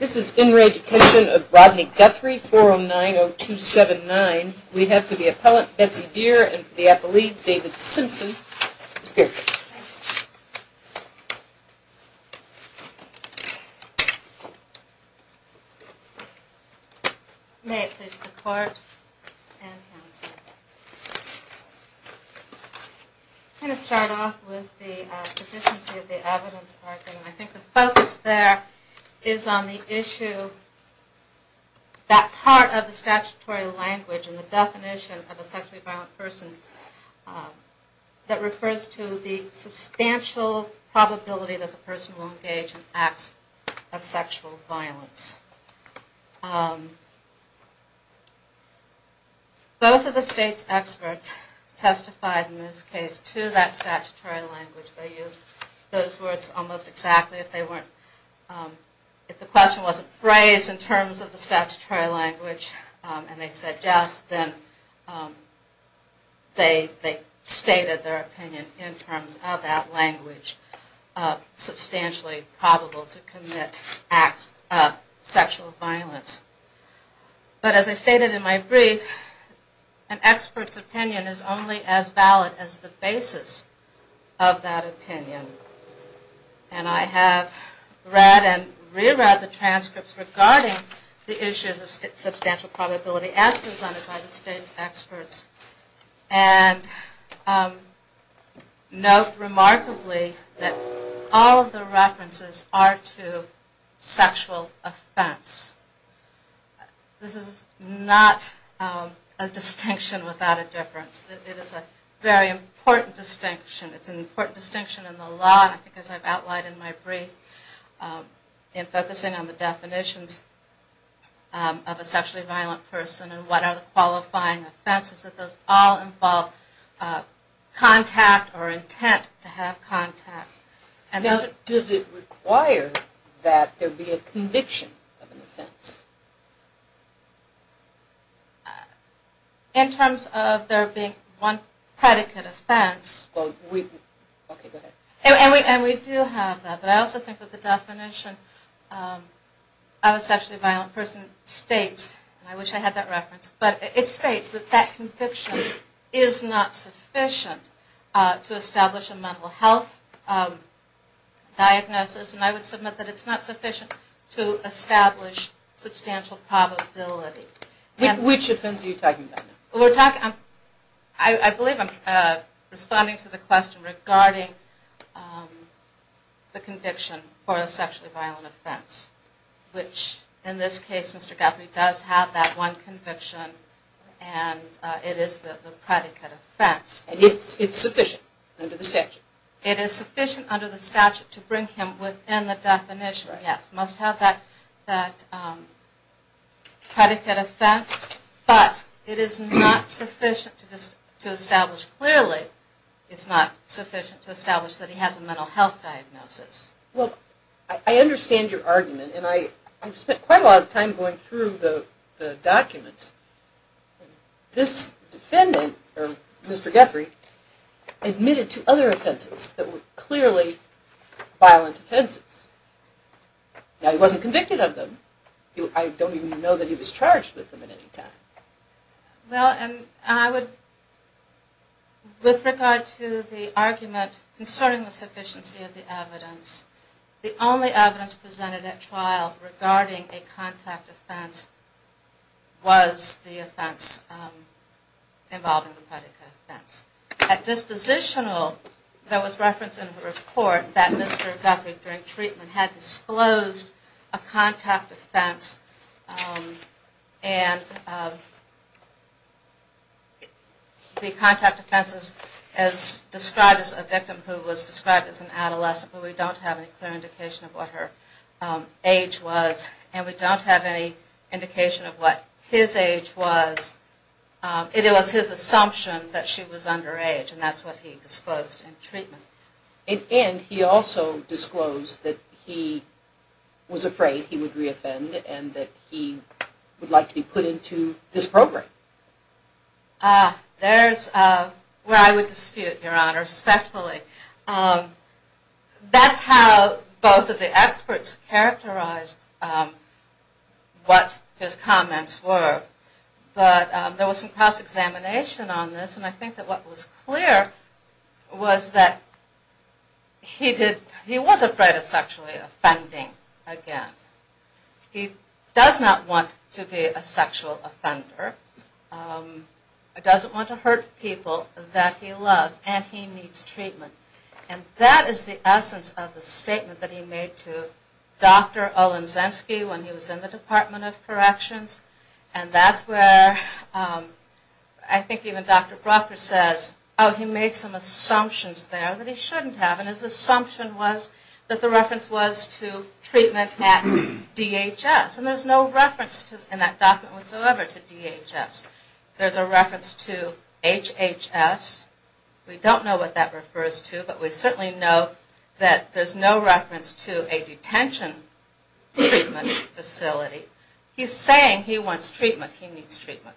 This is in re Detention of Rodney Guthrie, 409-0279. We have for the appellant Betsy Beer and for the appellee David Simpson. Ms. Beer. May it please the court and counsel. I'm going to start off with the sufficiency of the evidence. I think the focus there is on the issue, that part of the statutory language and the definition of a sexually violent person that refers to the substantial probability that the person will engage in acts of sexual violence. Both of the state's experts testified in this case to that statutory language. They used those words almost exactly if they weren't, if the question wasn't phrased in terms of the statutory language and they said yes, then they stated their opinion in terms of that language, substantially probable to commit acts of sexual violence. But as I stated in my brief, an expert's opinion is only as valid as the basis of that opinion. And I have read and re-read the transcripts regarding the issues of substantial probability as presented by the state's experts and note remarkably that all of the references are to sexual offenses. This is not a distinction without a difference. It is a very important distinction. It's an important distinction in the law and I think as I've outlined in my brief in focusing on the definitions of a sexually violent person and what are the qualifying offenses, that those all involve contact or intent to have contact. Does it require that there be a conviction of an offense? In terms of there being one predicate offense, and we do have that, but I also think that the definition of a sexually violent person states, and I wish I had that reference, but it states that that conviction is not sufficient to establish a mental health diagnosis and I would submit that it's not sufficient to establish substantial probability. Which offense are you talking about? I believe I'm responding to the question regarding the conviction for a sexually violent offense, which in this case Mr. Guthrie does have that one conviction and it is the predicate offense. And it's sufficient under the statute? It is sufficient under the statute to bring him within the definition, yes, must have that predicate offense, but it is not sufficient to establish clearly, it's not sufficient to establish that he has a mental health diagnosis. Well, I understand your argument and I've spent quite a lot of time going through the documents. This defendant, or Mr. Guthrie, admitted to other offenses that were clearly violent offenses. Now he wasn't convicted of them, I don't even know that he was charged with them at any time. Well, and I would, with regard to the argument concerning the sufficiency of the evidence, the only evidence presented at trial regarding a contact offense was the offense involving the predicate offense. At dispositional, there was reference in the report that Mr. Guthrie, during treatment, had disclosed a contact offense and the contact offense is described as a victim who was described as an adolescent, but we don't have any clear indication of what her age was. And we don't have any indication of what his age was. It was his assumption that she was underage and that's what he disclosed in treatment. And he also disclosed that he was afraid he would re-offend and that he would like to be put into this program. Ah, there's where I would dispute, Your Honor, respectfully. That's how both of the experts characterized what his comments were. But there was some cross-examination on this and I think that what was clear was that he did, he was afraid of sexually offending again. He does not want to be a sexual offender, doesn't want to hurt people that he loves, and he needs treatment. And that is the essence of the statement that he made to Dr. Olenzenski when he was in the Department of Corrections. And that's where I think even Dr. Brucker says, oh, he made some assumptions there that he shouldn't have. And his assumption was that the reference was to treatment at DHS and there's no reference in that document whatsoever to DHS. There's a reference to HHS. We don't know what that refers to, but we certainly know that there's no reference to a detention treatment facility. He's saying he wants treatment. He needs treatment.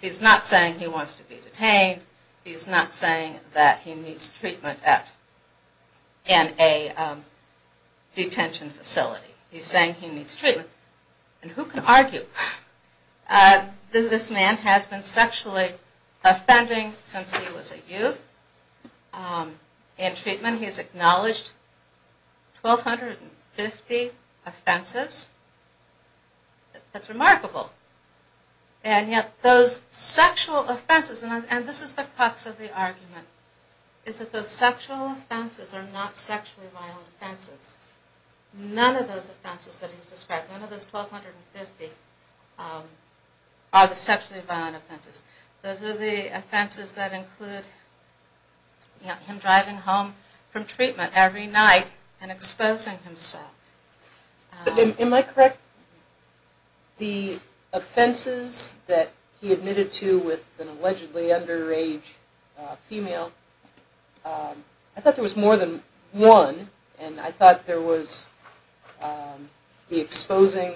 He's not saying he wants to be detained. He's not saying that he needs treatment at, in a detention facility. He's saying he needs treatment. And who can argue that this man has been sexually offending since he was a youth in treatment. He has acknowledged 1,250 offenses. That's remarkable. And yet those sexual offenses, and this is the crux of the argument, is that those sexual offenses are not sexually violent offenses. None of those offenses that he's described, none of those 1,250 are the sexually violent offenses. Those are the offenses that include him driving home from treatment every night and exposing himself. Am I correct? The offenses that he admitted to with an allegedly underage female, I thought there was more than one. And I thought there was the exposing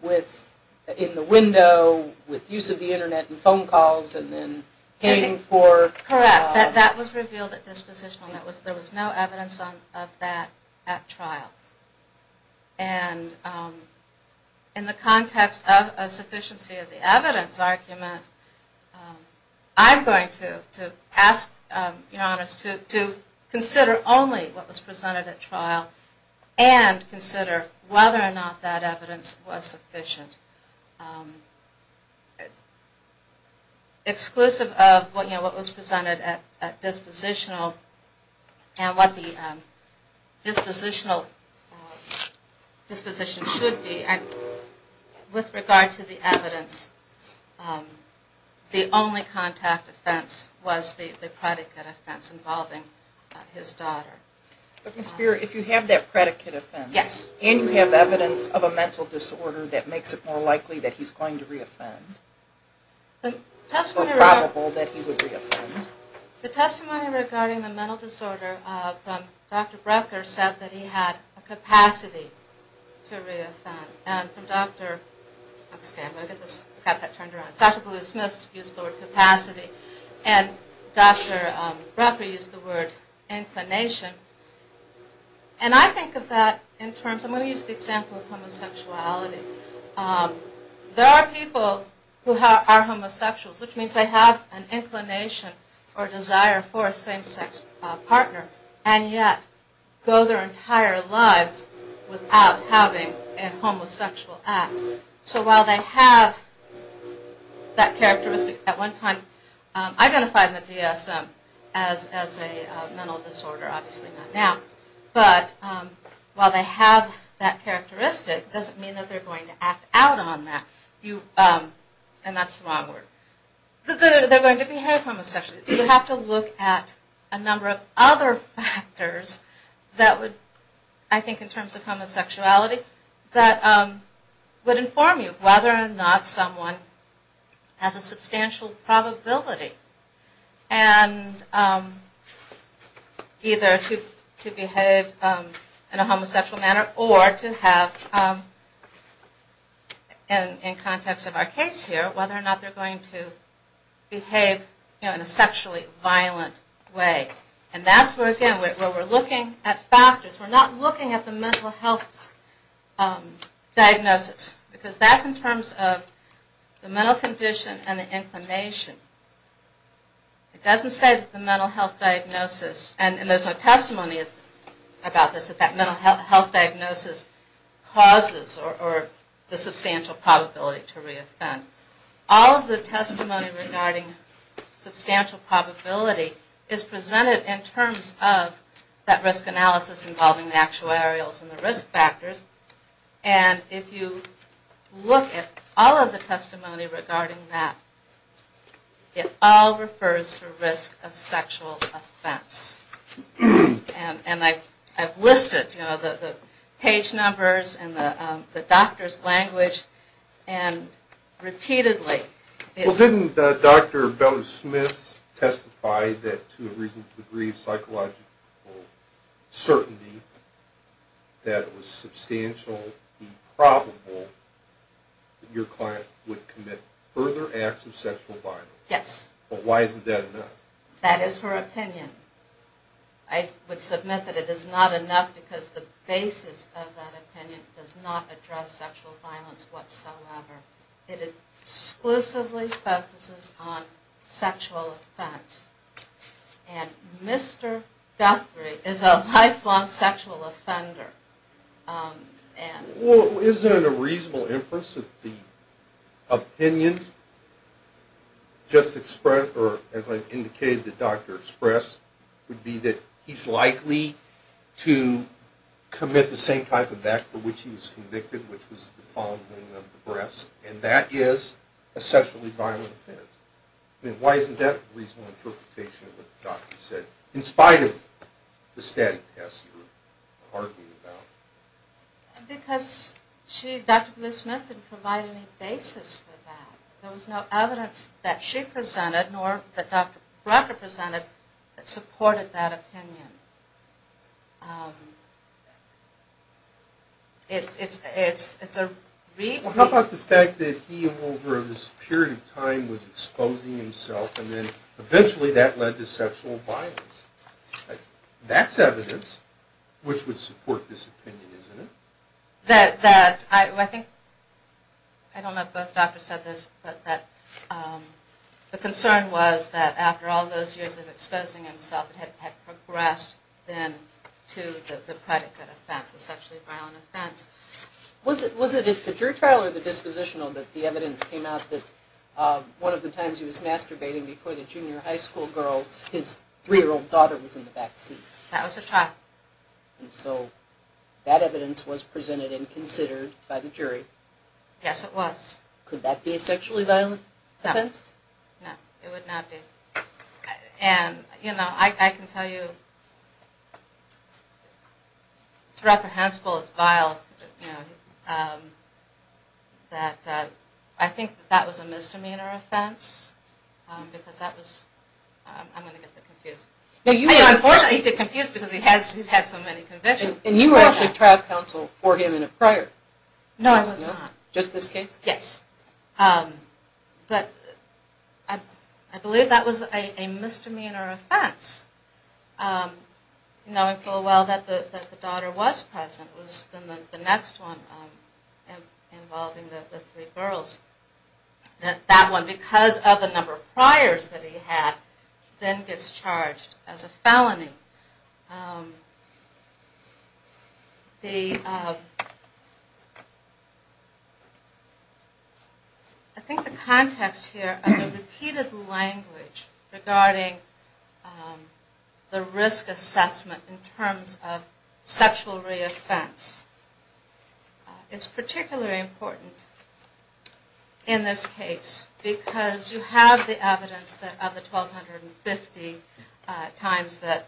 with, in the window, with use of the internet and phone calls and then paying for... Correct. That was revealed at dispositional. There was no evidence of that at trial. And in the context of a sufficiency of the evidence argument, I'm going to ask Your Honors to consider only what was presented at trial and consider whether or not that evidence was sufficient. It's exclusive of what was presented at dispositional and what the dispositional disposition should be. With regard to the evidence, the only contact offense was the predicate offense involving his daughter. But Ms. Spear, if you have that predicate offense... Yes. And you have evidence of a mental disorder that makes it more likely that he's going to re-offend. The testimony... So probable that he would re-offend. The testimony regarding the mental disorder from Dr. Brucker said that he had a capacity to re-offend. And from Dr. Blue Smith used the word capacity and Dr. Brucker used the word inclination. And I think of that in terms... I'm going to use the example of homosexuality. There are people who are homosexuals, which means they have an inclination or desire for a same-sex partner and yet go their entire lives without having a homosexual act. So while they have that characteristic, at one time identified in the DSM as a mental disorder, obviously not now, but while they have that characteristic, it doesn't mean that they're going to act out on that. And that's the wrong word. They're going to behave homosexually. You have to look at a number of other factors that would, I think in terms of homosexuality, that would inform you whether or not someone has a substantial probability either to behave in a homosexual manner or to have, in context of our case here, whether or not they're going to behave in a sexually violent way. And that's where, again, we're looking at factors. We're not looking at the mental health diagnosis because that's in terms of the mental condition and the inclination. It doesn't say that the mental health diagnosis, and there's no testimony about this, that that mental health diagnosis causes or the substantial probability to re-offend. All of the testimony regarding substantial probability is presented in terms of that risk analysis involving the actuarials and the risk factors. And if you look at all of the testimony regarding that, it all refers to risk of sexual offense. And I've listed the page numbers and the doctor's language, and repeatedly it's... Well, didn't Dr. Bella-Smith testify that to a reasonable degree of psychological certainty that it was substantially probable that your client would commit further acts of sexual violence? Yes. But why isn't that enough? That is her opinion. I would submit that it is not enough because the basis of that opinion does not address sexual violence whatsoever. It exclusively focuses on sexual offense. And Mr. Guthrie is a lifelong sexual offender. Well, isn't it a reasonable inference that the opinion just expressed, or as I've indicated the doctor expressed, would be that he's likely to commit the same type of act for which he was convicted, which was the following of the breast, and that is a sexually violent offense. I mean, why isn't that a reasonable interpretation of what the doctor said, in spite of the static tests you're arguing about? Because she, Dr. Bella-Smith, didn't provide any basis for that. There was no evidence that she presented, nor that Dr. Brucker presented, that supported that opinion. Well, how about the fact that he, over this period of time, was exposing himself, and then eventually that led to sexual violence? That's evidence which would support this opinion, isn't it? I don't know if both doctors said this, but the concern was that after all those years of exposing himself, it had progressed then to the predicate offense, the sexually violent offense. Was it a jury trial or the dispositional that the evidence came out that one of the times he was masturbating before the junior high school girls, his three-year-old daughter was in the back seat? That was a trial. And so that evidence was presented and considered by the jury? Yes, it was. Could that be a sexually violent offense? No, it would not be. And, you know, I can tell you, it's reprehensible, it's vile, that I think that was a misdemeanor offense because that was... I'm going to get that confused. Unfortunately, he got confused because he's had so many convictions. And you were actually trial counsel for him in a prior? No, I was not. Just this case? Yes. But I believe that was a misdemeanor offense, knowing full well that the daughter was present. It was the next one involving the three girls. That one, because of the number of priors that he had, then gets charged as a felony. I think the context here of the repeated language regarding the risk assessment in terms of sexual reoffense is particularly important in this case because you have the evidence of the 1,250 times that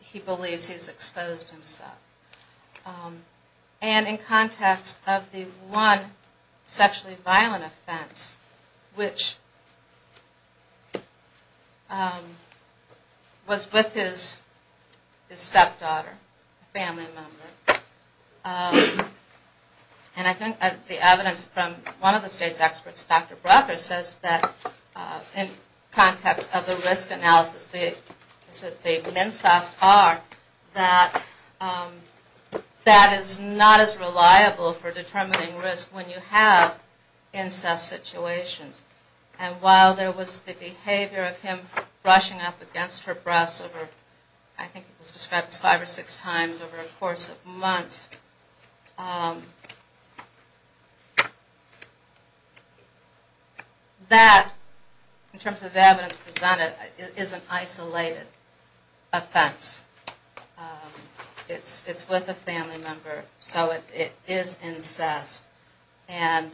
he believes he's exposed himself. And in context of the one sexually violent offense, which was with his stepdaughter, a family member. And I think the evidence from one of the state's experts, Dr. Brocker, says that in context of the risk analysis, the incest are that that is not as reliable for determining risk when you have incest situations. And while there was the behavior of him brushing up against her breasts over, I think it was described as five or six times over a course of months, that, in terms of the evidence presented, is an isolated offense. It's with a family member, so it is incest. And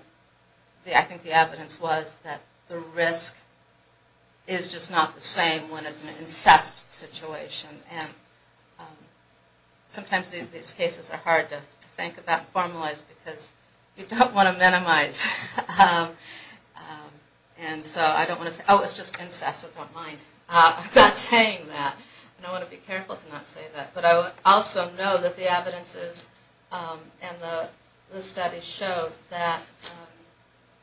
I think the evidence was that the risk is just not the same when it's an incest situation. And sometimes these cases are hard to think about. It's hard to think about and formalize because you don't want to minimize. And so I don't want to say, oh, it's just incest, so don't mind. I'm not saying that. And I want to be careful to not say that. But I also know that the evidence is, and the studies show, that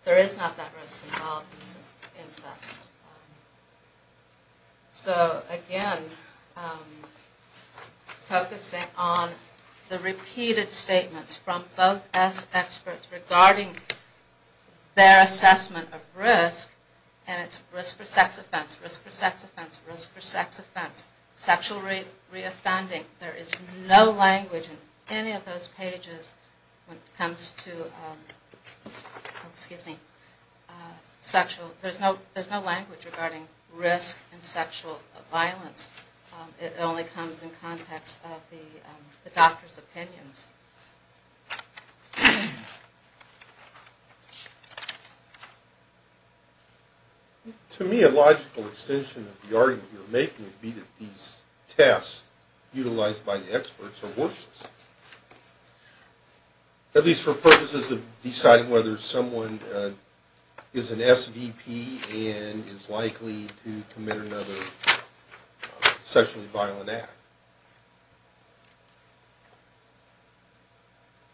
there is not that risk involved in incest. So, again, focusing on the repeated statements from both experts regarding their assessment of risk, and it's risk for sex offense, risk for sex offense, risk for sex offense, sexual reoffending. There is no language in any of those pages when it comes to sexual, there's no language regarding risk in sexual violence. It only comes in context of the doctor's opinions. To me, a logical extension of the argument you're making would be that these tests utilized by the experts are worthless, at least for purposes of deciding whether someone is an SVP and is likely to commit another sexually violent act.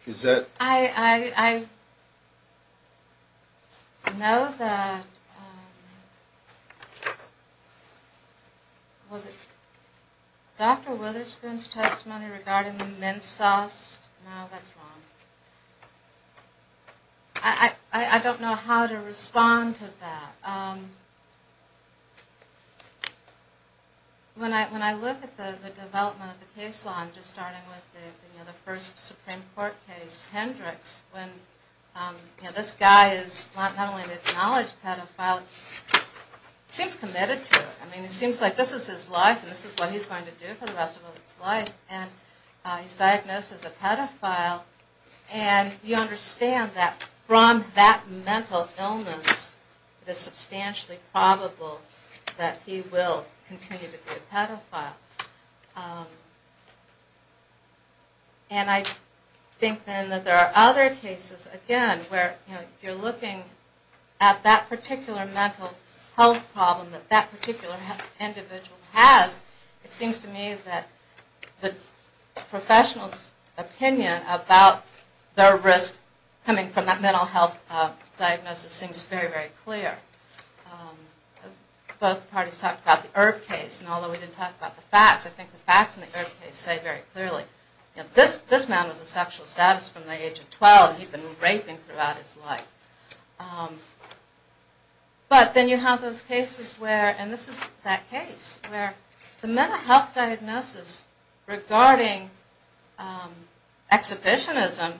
Is that? I know that, was it Dr. Witherspoon's testimony regarding the men's test? No, that's wrong. I don't know how to respond to that. When I look at the development of the case law, I'm just starting with the first Supreme Court case, Hendricks, when this guy is not only an acknowledged pedophile, he seems committed to it. It seems like this is his life, and this is what he's going to do for the rest of his life. He's diagnosed as a pedophile. You understand that from that mental illness, it is substantially probable that he will continue to be a pedophile. I think then that there are other cases, again, where you're looking at that particular mental health problem that that particular individual has. It seems to me that the professional's opinion about their risk coming from that mental health diagnosis seems very, very clear. Both parties talked about the Erb case, and although we didn't talk about the facts, I think the facts in the Erb case say very clearly, this man was a sexual sadist from the age of 12, and he's been raping throughout his life. But then you have those cases where, and this is that case, where the mental health diagnosis regarding exhibitionism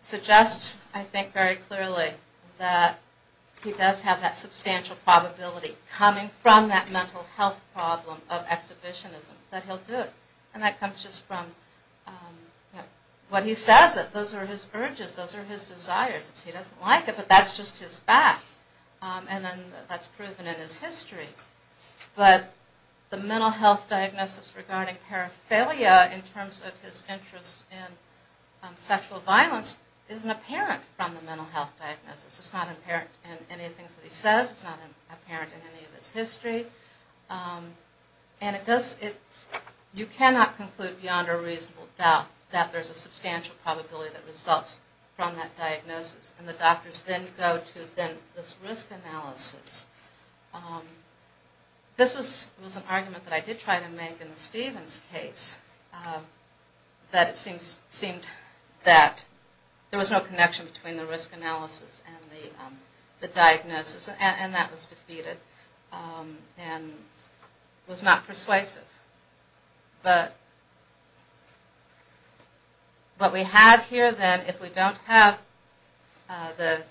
suggests, I think very clearly, that he does have that substantial probability coming from that mental health problem of exhibitionism, that he'll do it. And that comes just from what he says, that those are his urges, those are his desires. He doesn't like it, but that's just his fact, and that's proven in his history. But the mental health diagnosis regarding paraphernalia in terms of his interest in sexual violence isn't apparent from the mental health diagnosis. It's not apparent in any of the things that he says. It's not apparent in any of his history. And you cannot conclude beyond a reasonable doubt that there's a substantial probability that results from that diagnosis. And the doctors then go to this risk analysis. This was an argument that I did try to make in the Stevens case, that it seemed that there was no connection between the risk analysis and the diagnosis, and that was defeated and was not persuasive. But what we have here then, if we don't have the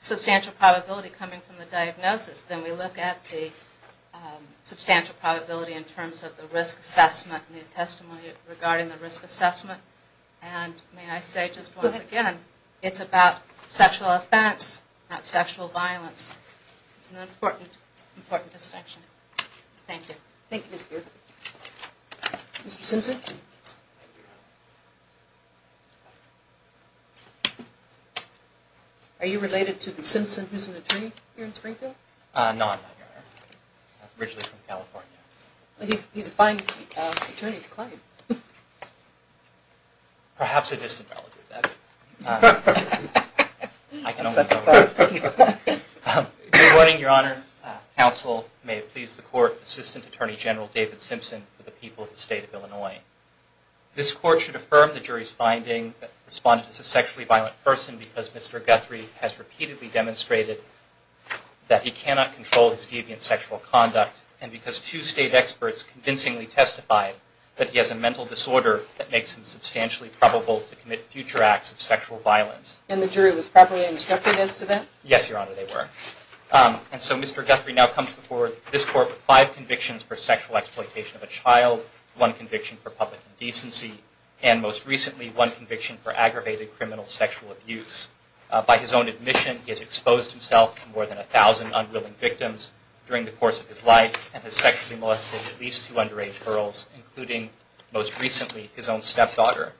substantial probability coming from the diagnosis, then we look at the substantial probability in terms of the risk assessment and the testimony regarding the risk assessment. And may I say just once again, it's about sexual offense, not sexual violence. It's an important distinction. Thank you. Thank you, Mr. Beard. Mr. Simpson? Thank you, Your Honor. Are you related to the Simpson who's an attorney here in Springfield? No, I'm not, Your Honor. I'm originally from California. He's a fine attorney to claim. Perhaps a distant relative, that would be. I don't know. Good morning, Your Honor. Counsel, may it please the Court, Assistant Attorney General David Simpson for the people of the State of Illinois. This Court should affirm the jury's finding that he responded as a sexually violent person because Mr. Guthrie has repeatedly demonstrated that he cannot control his deviant sexual conduct, and because two State experts convincingly testified that he has a mental disorder that makes him substantially probable to commit future acts of sexual violence. And the jury was properly instructed as to that? Yes, Your Honor, they were. And so Mr. Guthrie now comes before this Court with five convictions for sexual exploitation of a child, one conviction for public indecency, and most recently one conviction for aggravated criminal sexual abuse. By his own admission, he has exposed himself to more than a thousand unwilling victims during the course of his life, and has sexually molested at least two underage girls, including, most recently, his own stepdaughter.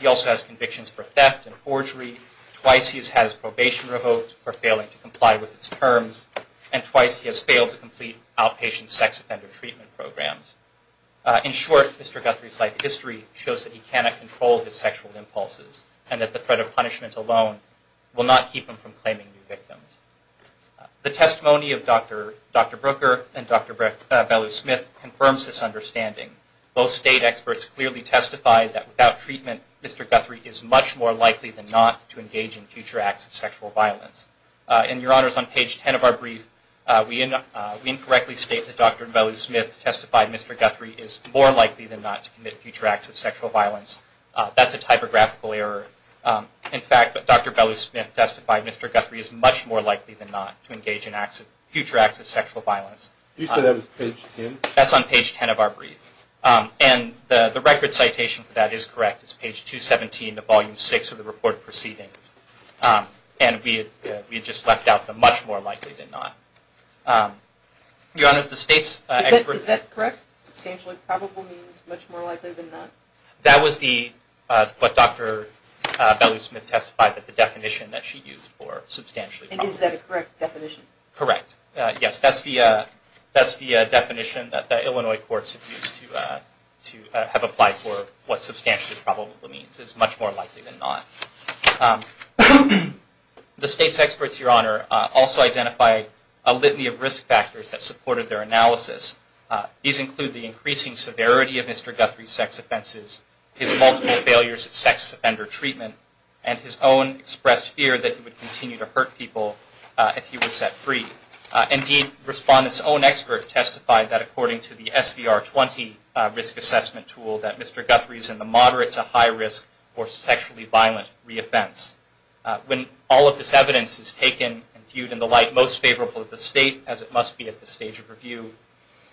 He also has convictions for theft and forgery. Twice he has had his probation revoked for failing to comply with its terms, and twice he has failed to complete outpatient sex offender treatment programs. In short, Mr. Guthrie's life history shows that he cannot control his sexual impulses, and that the threat of punishment alone will not keep him from claiming new victims. The testimony of Dr. Brooker and Dr. Bellew-Smith confirms this understanding. Both State experts clearly testified that without treatment, Mr. Guthrie is much more likely than not to engage in future acts of sexual violence. And, Your Honors, on page 10 of our brief, we incorrectly state that Dr. Bellew-Smith testified Mr. Guthrie is more likely than not to commit future acts of sexual violence. That's a typographical error. In fact, Dr. Bellew-Smith testified Mr. Guthrie is much more likely than not to engage in future acts of sexual violence. You said that was page 10? That's on page 10 of our brief. And the record citation for that is correct. It's page 217 of Volume 6 of the Report of Proceedings. And we had just left out the much more likely than not. Your Honors, the State's experts... Is that correct? Substantially probable means much more likely than not? That was what Dr. Bellew-Smith testified, the definition that she used for substantially probable. And is that a correct definition? Correct. Yes, that's the definition that the Illinois courts have applied for what substantially probable means. It's much more likely than not. The State's experts, Your Honor, also identified a litany of risk factors that supported their analysis. These include the increasing severity of Mr. Guthrie's sex offenses, his multiple failures at sex offender treatment, and his own expressed fear that he would continue to hurt people if he were set free. Indeed, Respondent's own expert testified that according to the SVR-20 risk assessment tool, that Mr. Guthrie is in the moderate to high risk for sexually violent re-offense. When all of this evidence is taken and viewed in the light most favorable of the State, as it must be at this stage of review,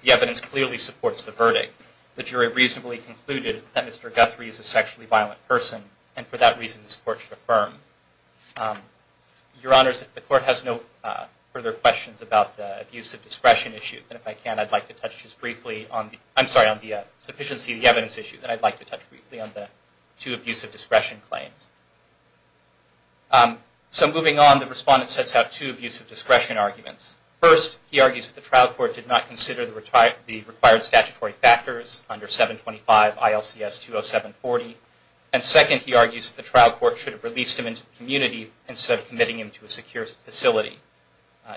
the evidence clearly supports the verdict. The jury reasonably concluded that Mr. Guthrie is a sexually violent person, and for that reason this Court should affirm. Your Honors, if the Court has no further questions about the abuse of discretion issue, then if I can I'd like to touch just briefly on the, I'm sorry, on the sufficiency of the evidence issue, then I'd like to touch briefly on the two abuse of discretion claims. So moving on, the Respondent sets out two abuse of discretion arguments. First, he argues that the trial court did not consider the required statutory factors under 725 ILCS-207-40. And second, he argues that the trial court should have released him into the community instead of committing him to a secure facility.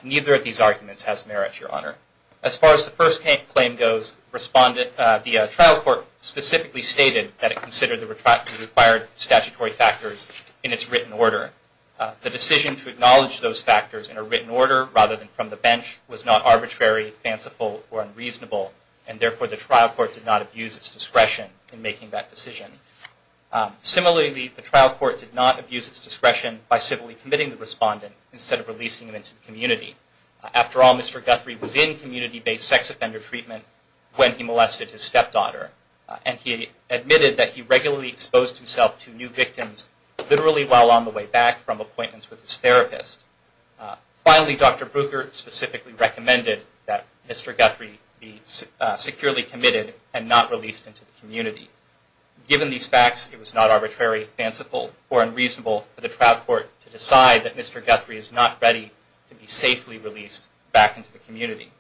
Neither of these arguments has merit, Your Honor. As far as the first claim goes, the trial court specifically stated that it considered the required statutory factors in its written order. The decision to acknowledge those factors in a written order rather than from the bench was not arbitrary, fanciful, or unreasonable, and therefore the trial court did not abuse its discretion in making that decision. Similarly, the trial court did not abuse its discretion by civilly committing the Respondent instead of releasing him into the community. After all, Mr. Guthrie was in community-based sex offender treatment when he molested his stepdaughter, and he admitted that he regularly exposed himself to new victims, literally while on the way back from appointments with his therapist. Finally, Dr. Brucker specifically recommended that Mr. Guthrie be securely committed and not released into the community. Given these facts, it was not arbitrary, fanciful, or unreasonable for the trial court to decide that Mr. Guthrie is not ready to be safely released back into the community.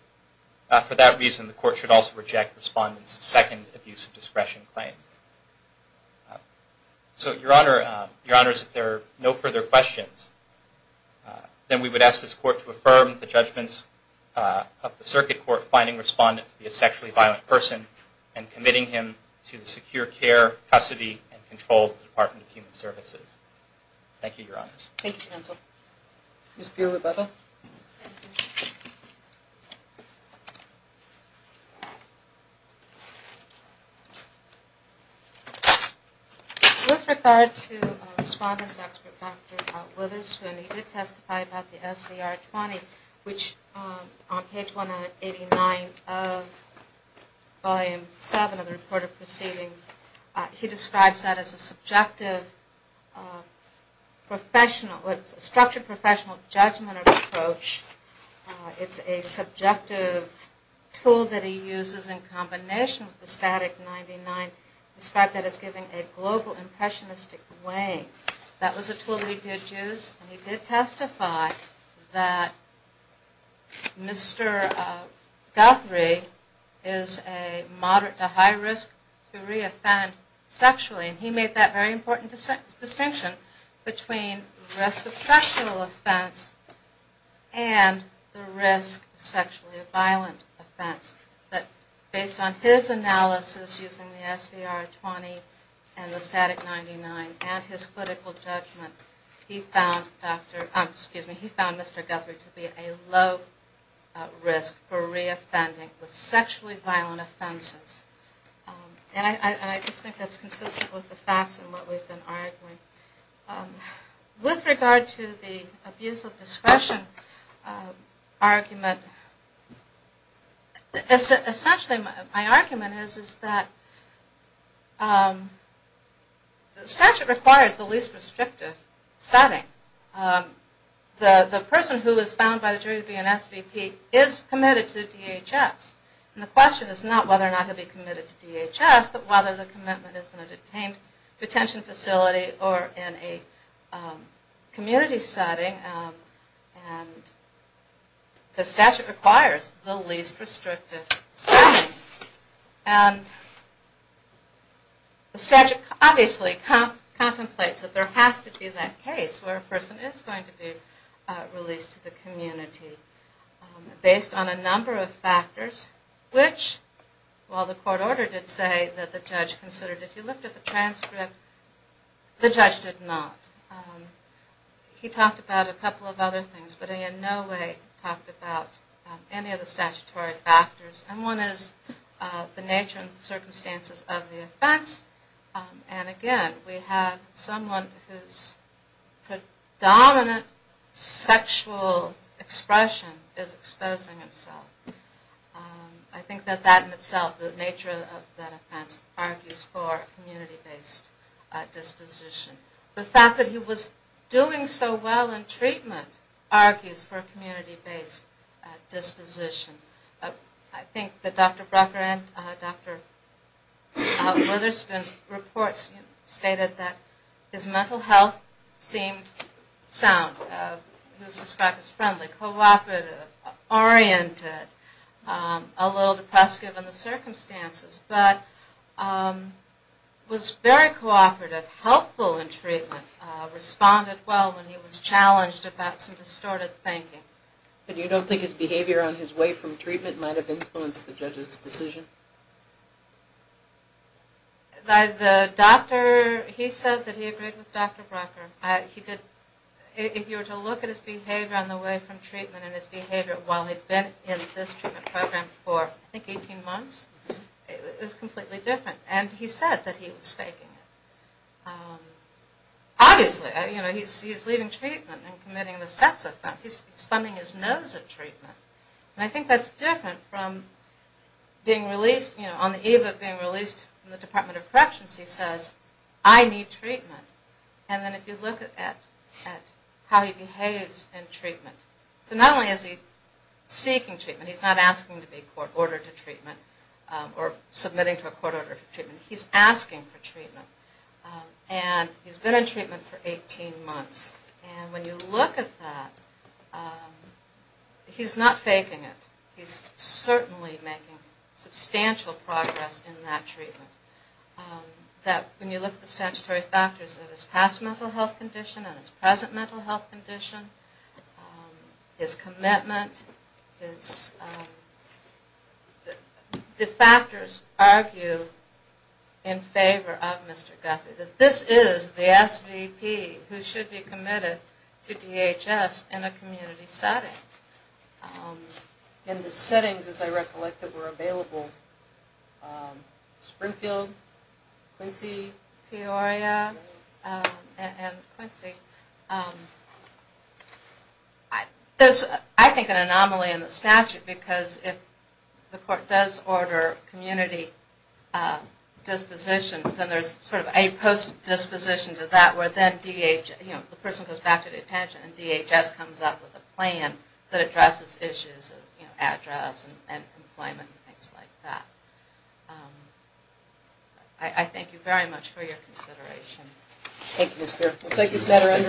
For that reason, the court should also reject Respondent's second abuse of discretion claim. So, Your Honor, Your Honors, if there are no further questions, then we would ask this court to affirm the judgments of the circuit court finding Respondent to be a sexually violent person and committing him to the secure care, custody, and control of the Department of Human Services. Thank you, Your Honors. Thank you, Counsel. Ms. Peer, Rebecca? Thank you. With regard to Respondent's expert, Dr. Witherspoon, he did testify about the SVR-20, which on page 189 of Volume 7 of the Report of Proceedings, he describes that as a subjective professional, a structured professional judgment approach. It's a subjective tool that he uses in combination with the static 99, described that as giving a global impressionistic weighing. That was a tool that he did use, and he did testify that Mr. Guthrie is a moderate to high risk to re-offend sexually. He made that very important distinction between risk of sexual offense and the risk of sexually violent offense. But based on his analysis using the SVR-20 and the static 99 and his political judgment, he found Mr. Guthrie to be a low risk for re-offending with sexually violent offenses. And I just think that's consistent with the facts and what we've been arguing. With regard to the abuse of discretion argument, essentially my argument is that the statute requires the least restrictive setting. The person who is found by the jury to be an SVP is committed to DHS. And the question is not whether or not they'll be committed to DHS, but whether the commitment is in a detained detention facility or in a community setting. And the statute requires the least restrictive setting. And the statute obviously contemplates that there has to be that case where a person is going to be released to the community based on a number of factors, which while the court order did say that the judge considered, if you looked at the transcript, the judge did not. He talked about a couple of other things, but he in no way talked about any of the statutory factors. And one is the nature and circumstances of the offense. And again, we have someone whose predominant sexual expression is exposing himself. I think that that in itself, the nature of that offense, argues for a community-based disposition. The fact that he was doing so well in treatment argues for a community-based disposition. I think that Dr. Brucker and Dr. Witherspoon's reports stated that his mental health seemed sound. He was described as friendly, cooperative, oriented, a little depressed given the circumstances, but was very cooperative, helpful in treatment, responded well when he was challenged about some distorted thinking. But you don't think his behavior on his way from treatment might have influenced the judge's decision? By the doctor, he said that he agreed with Dr. Brucker. He did. If you were to look at his behavior on the way from treatment and his behavior while he'd been in this treatment program for, I think, 18 months, it was completely different. And he said that he was faking it. Obviously, you know, he's leaving treatment and committing the sex offense. He's thumbing his nose at treatment. And I think that's different from being released, you know, on the eve of being released from the Department of Corrections, he says, I need treatment. And then if you look at how he behaves in treatment, so not only is he seeking treatment, he's not asking to be ordered to treatment or submitting to a court order for treatment. He's asking for treatment. And he's been in treatment for 18 months. And when you look at that, he's not faking it. He's certainly making substantial progress in that treatment. When you look at the statutory factors of his past mental health condition and his present mental health condition, his commitment, the factors argue in favor of Mr. Guthrie, that this is the SVP who should be committed to DHS in a community setting. In the settings, as I recollect, that were available, Springfield, Quincy, Peoria, and Quincy, there's, I think, an anomaly in the statute because if the court does order community disposition, then there's sort of a post-disposition to that where then the person goes back to detention and DHS comes up with a plan that addresses issues of address and employment and things like that. I thank you very much for your consideration. Thank you, Ms. Beard. We'll take this matter under advisement.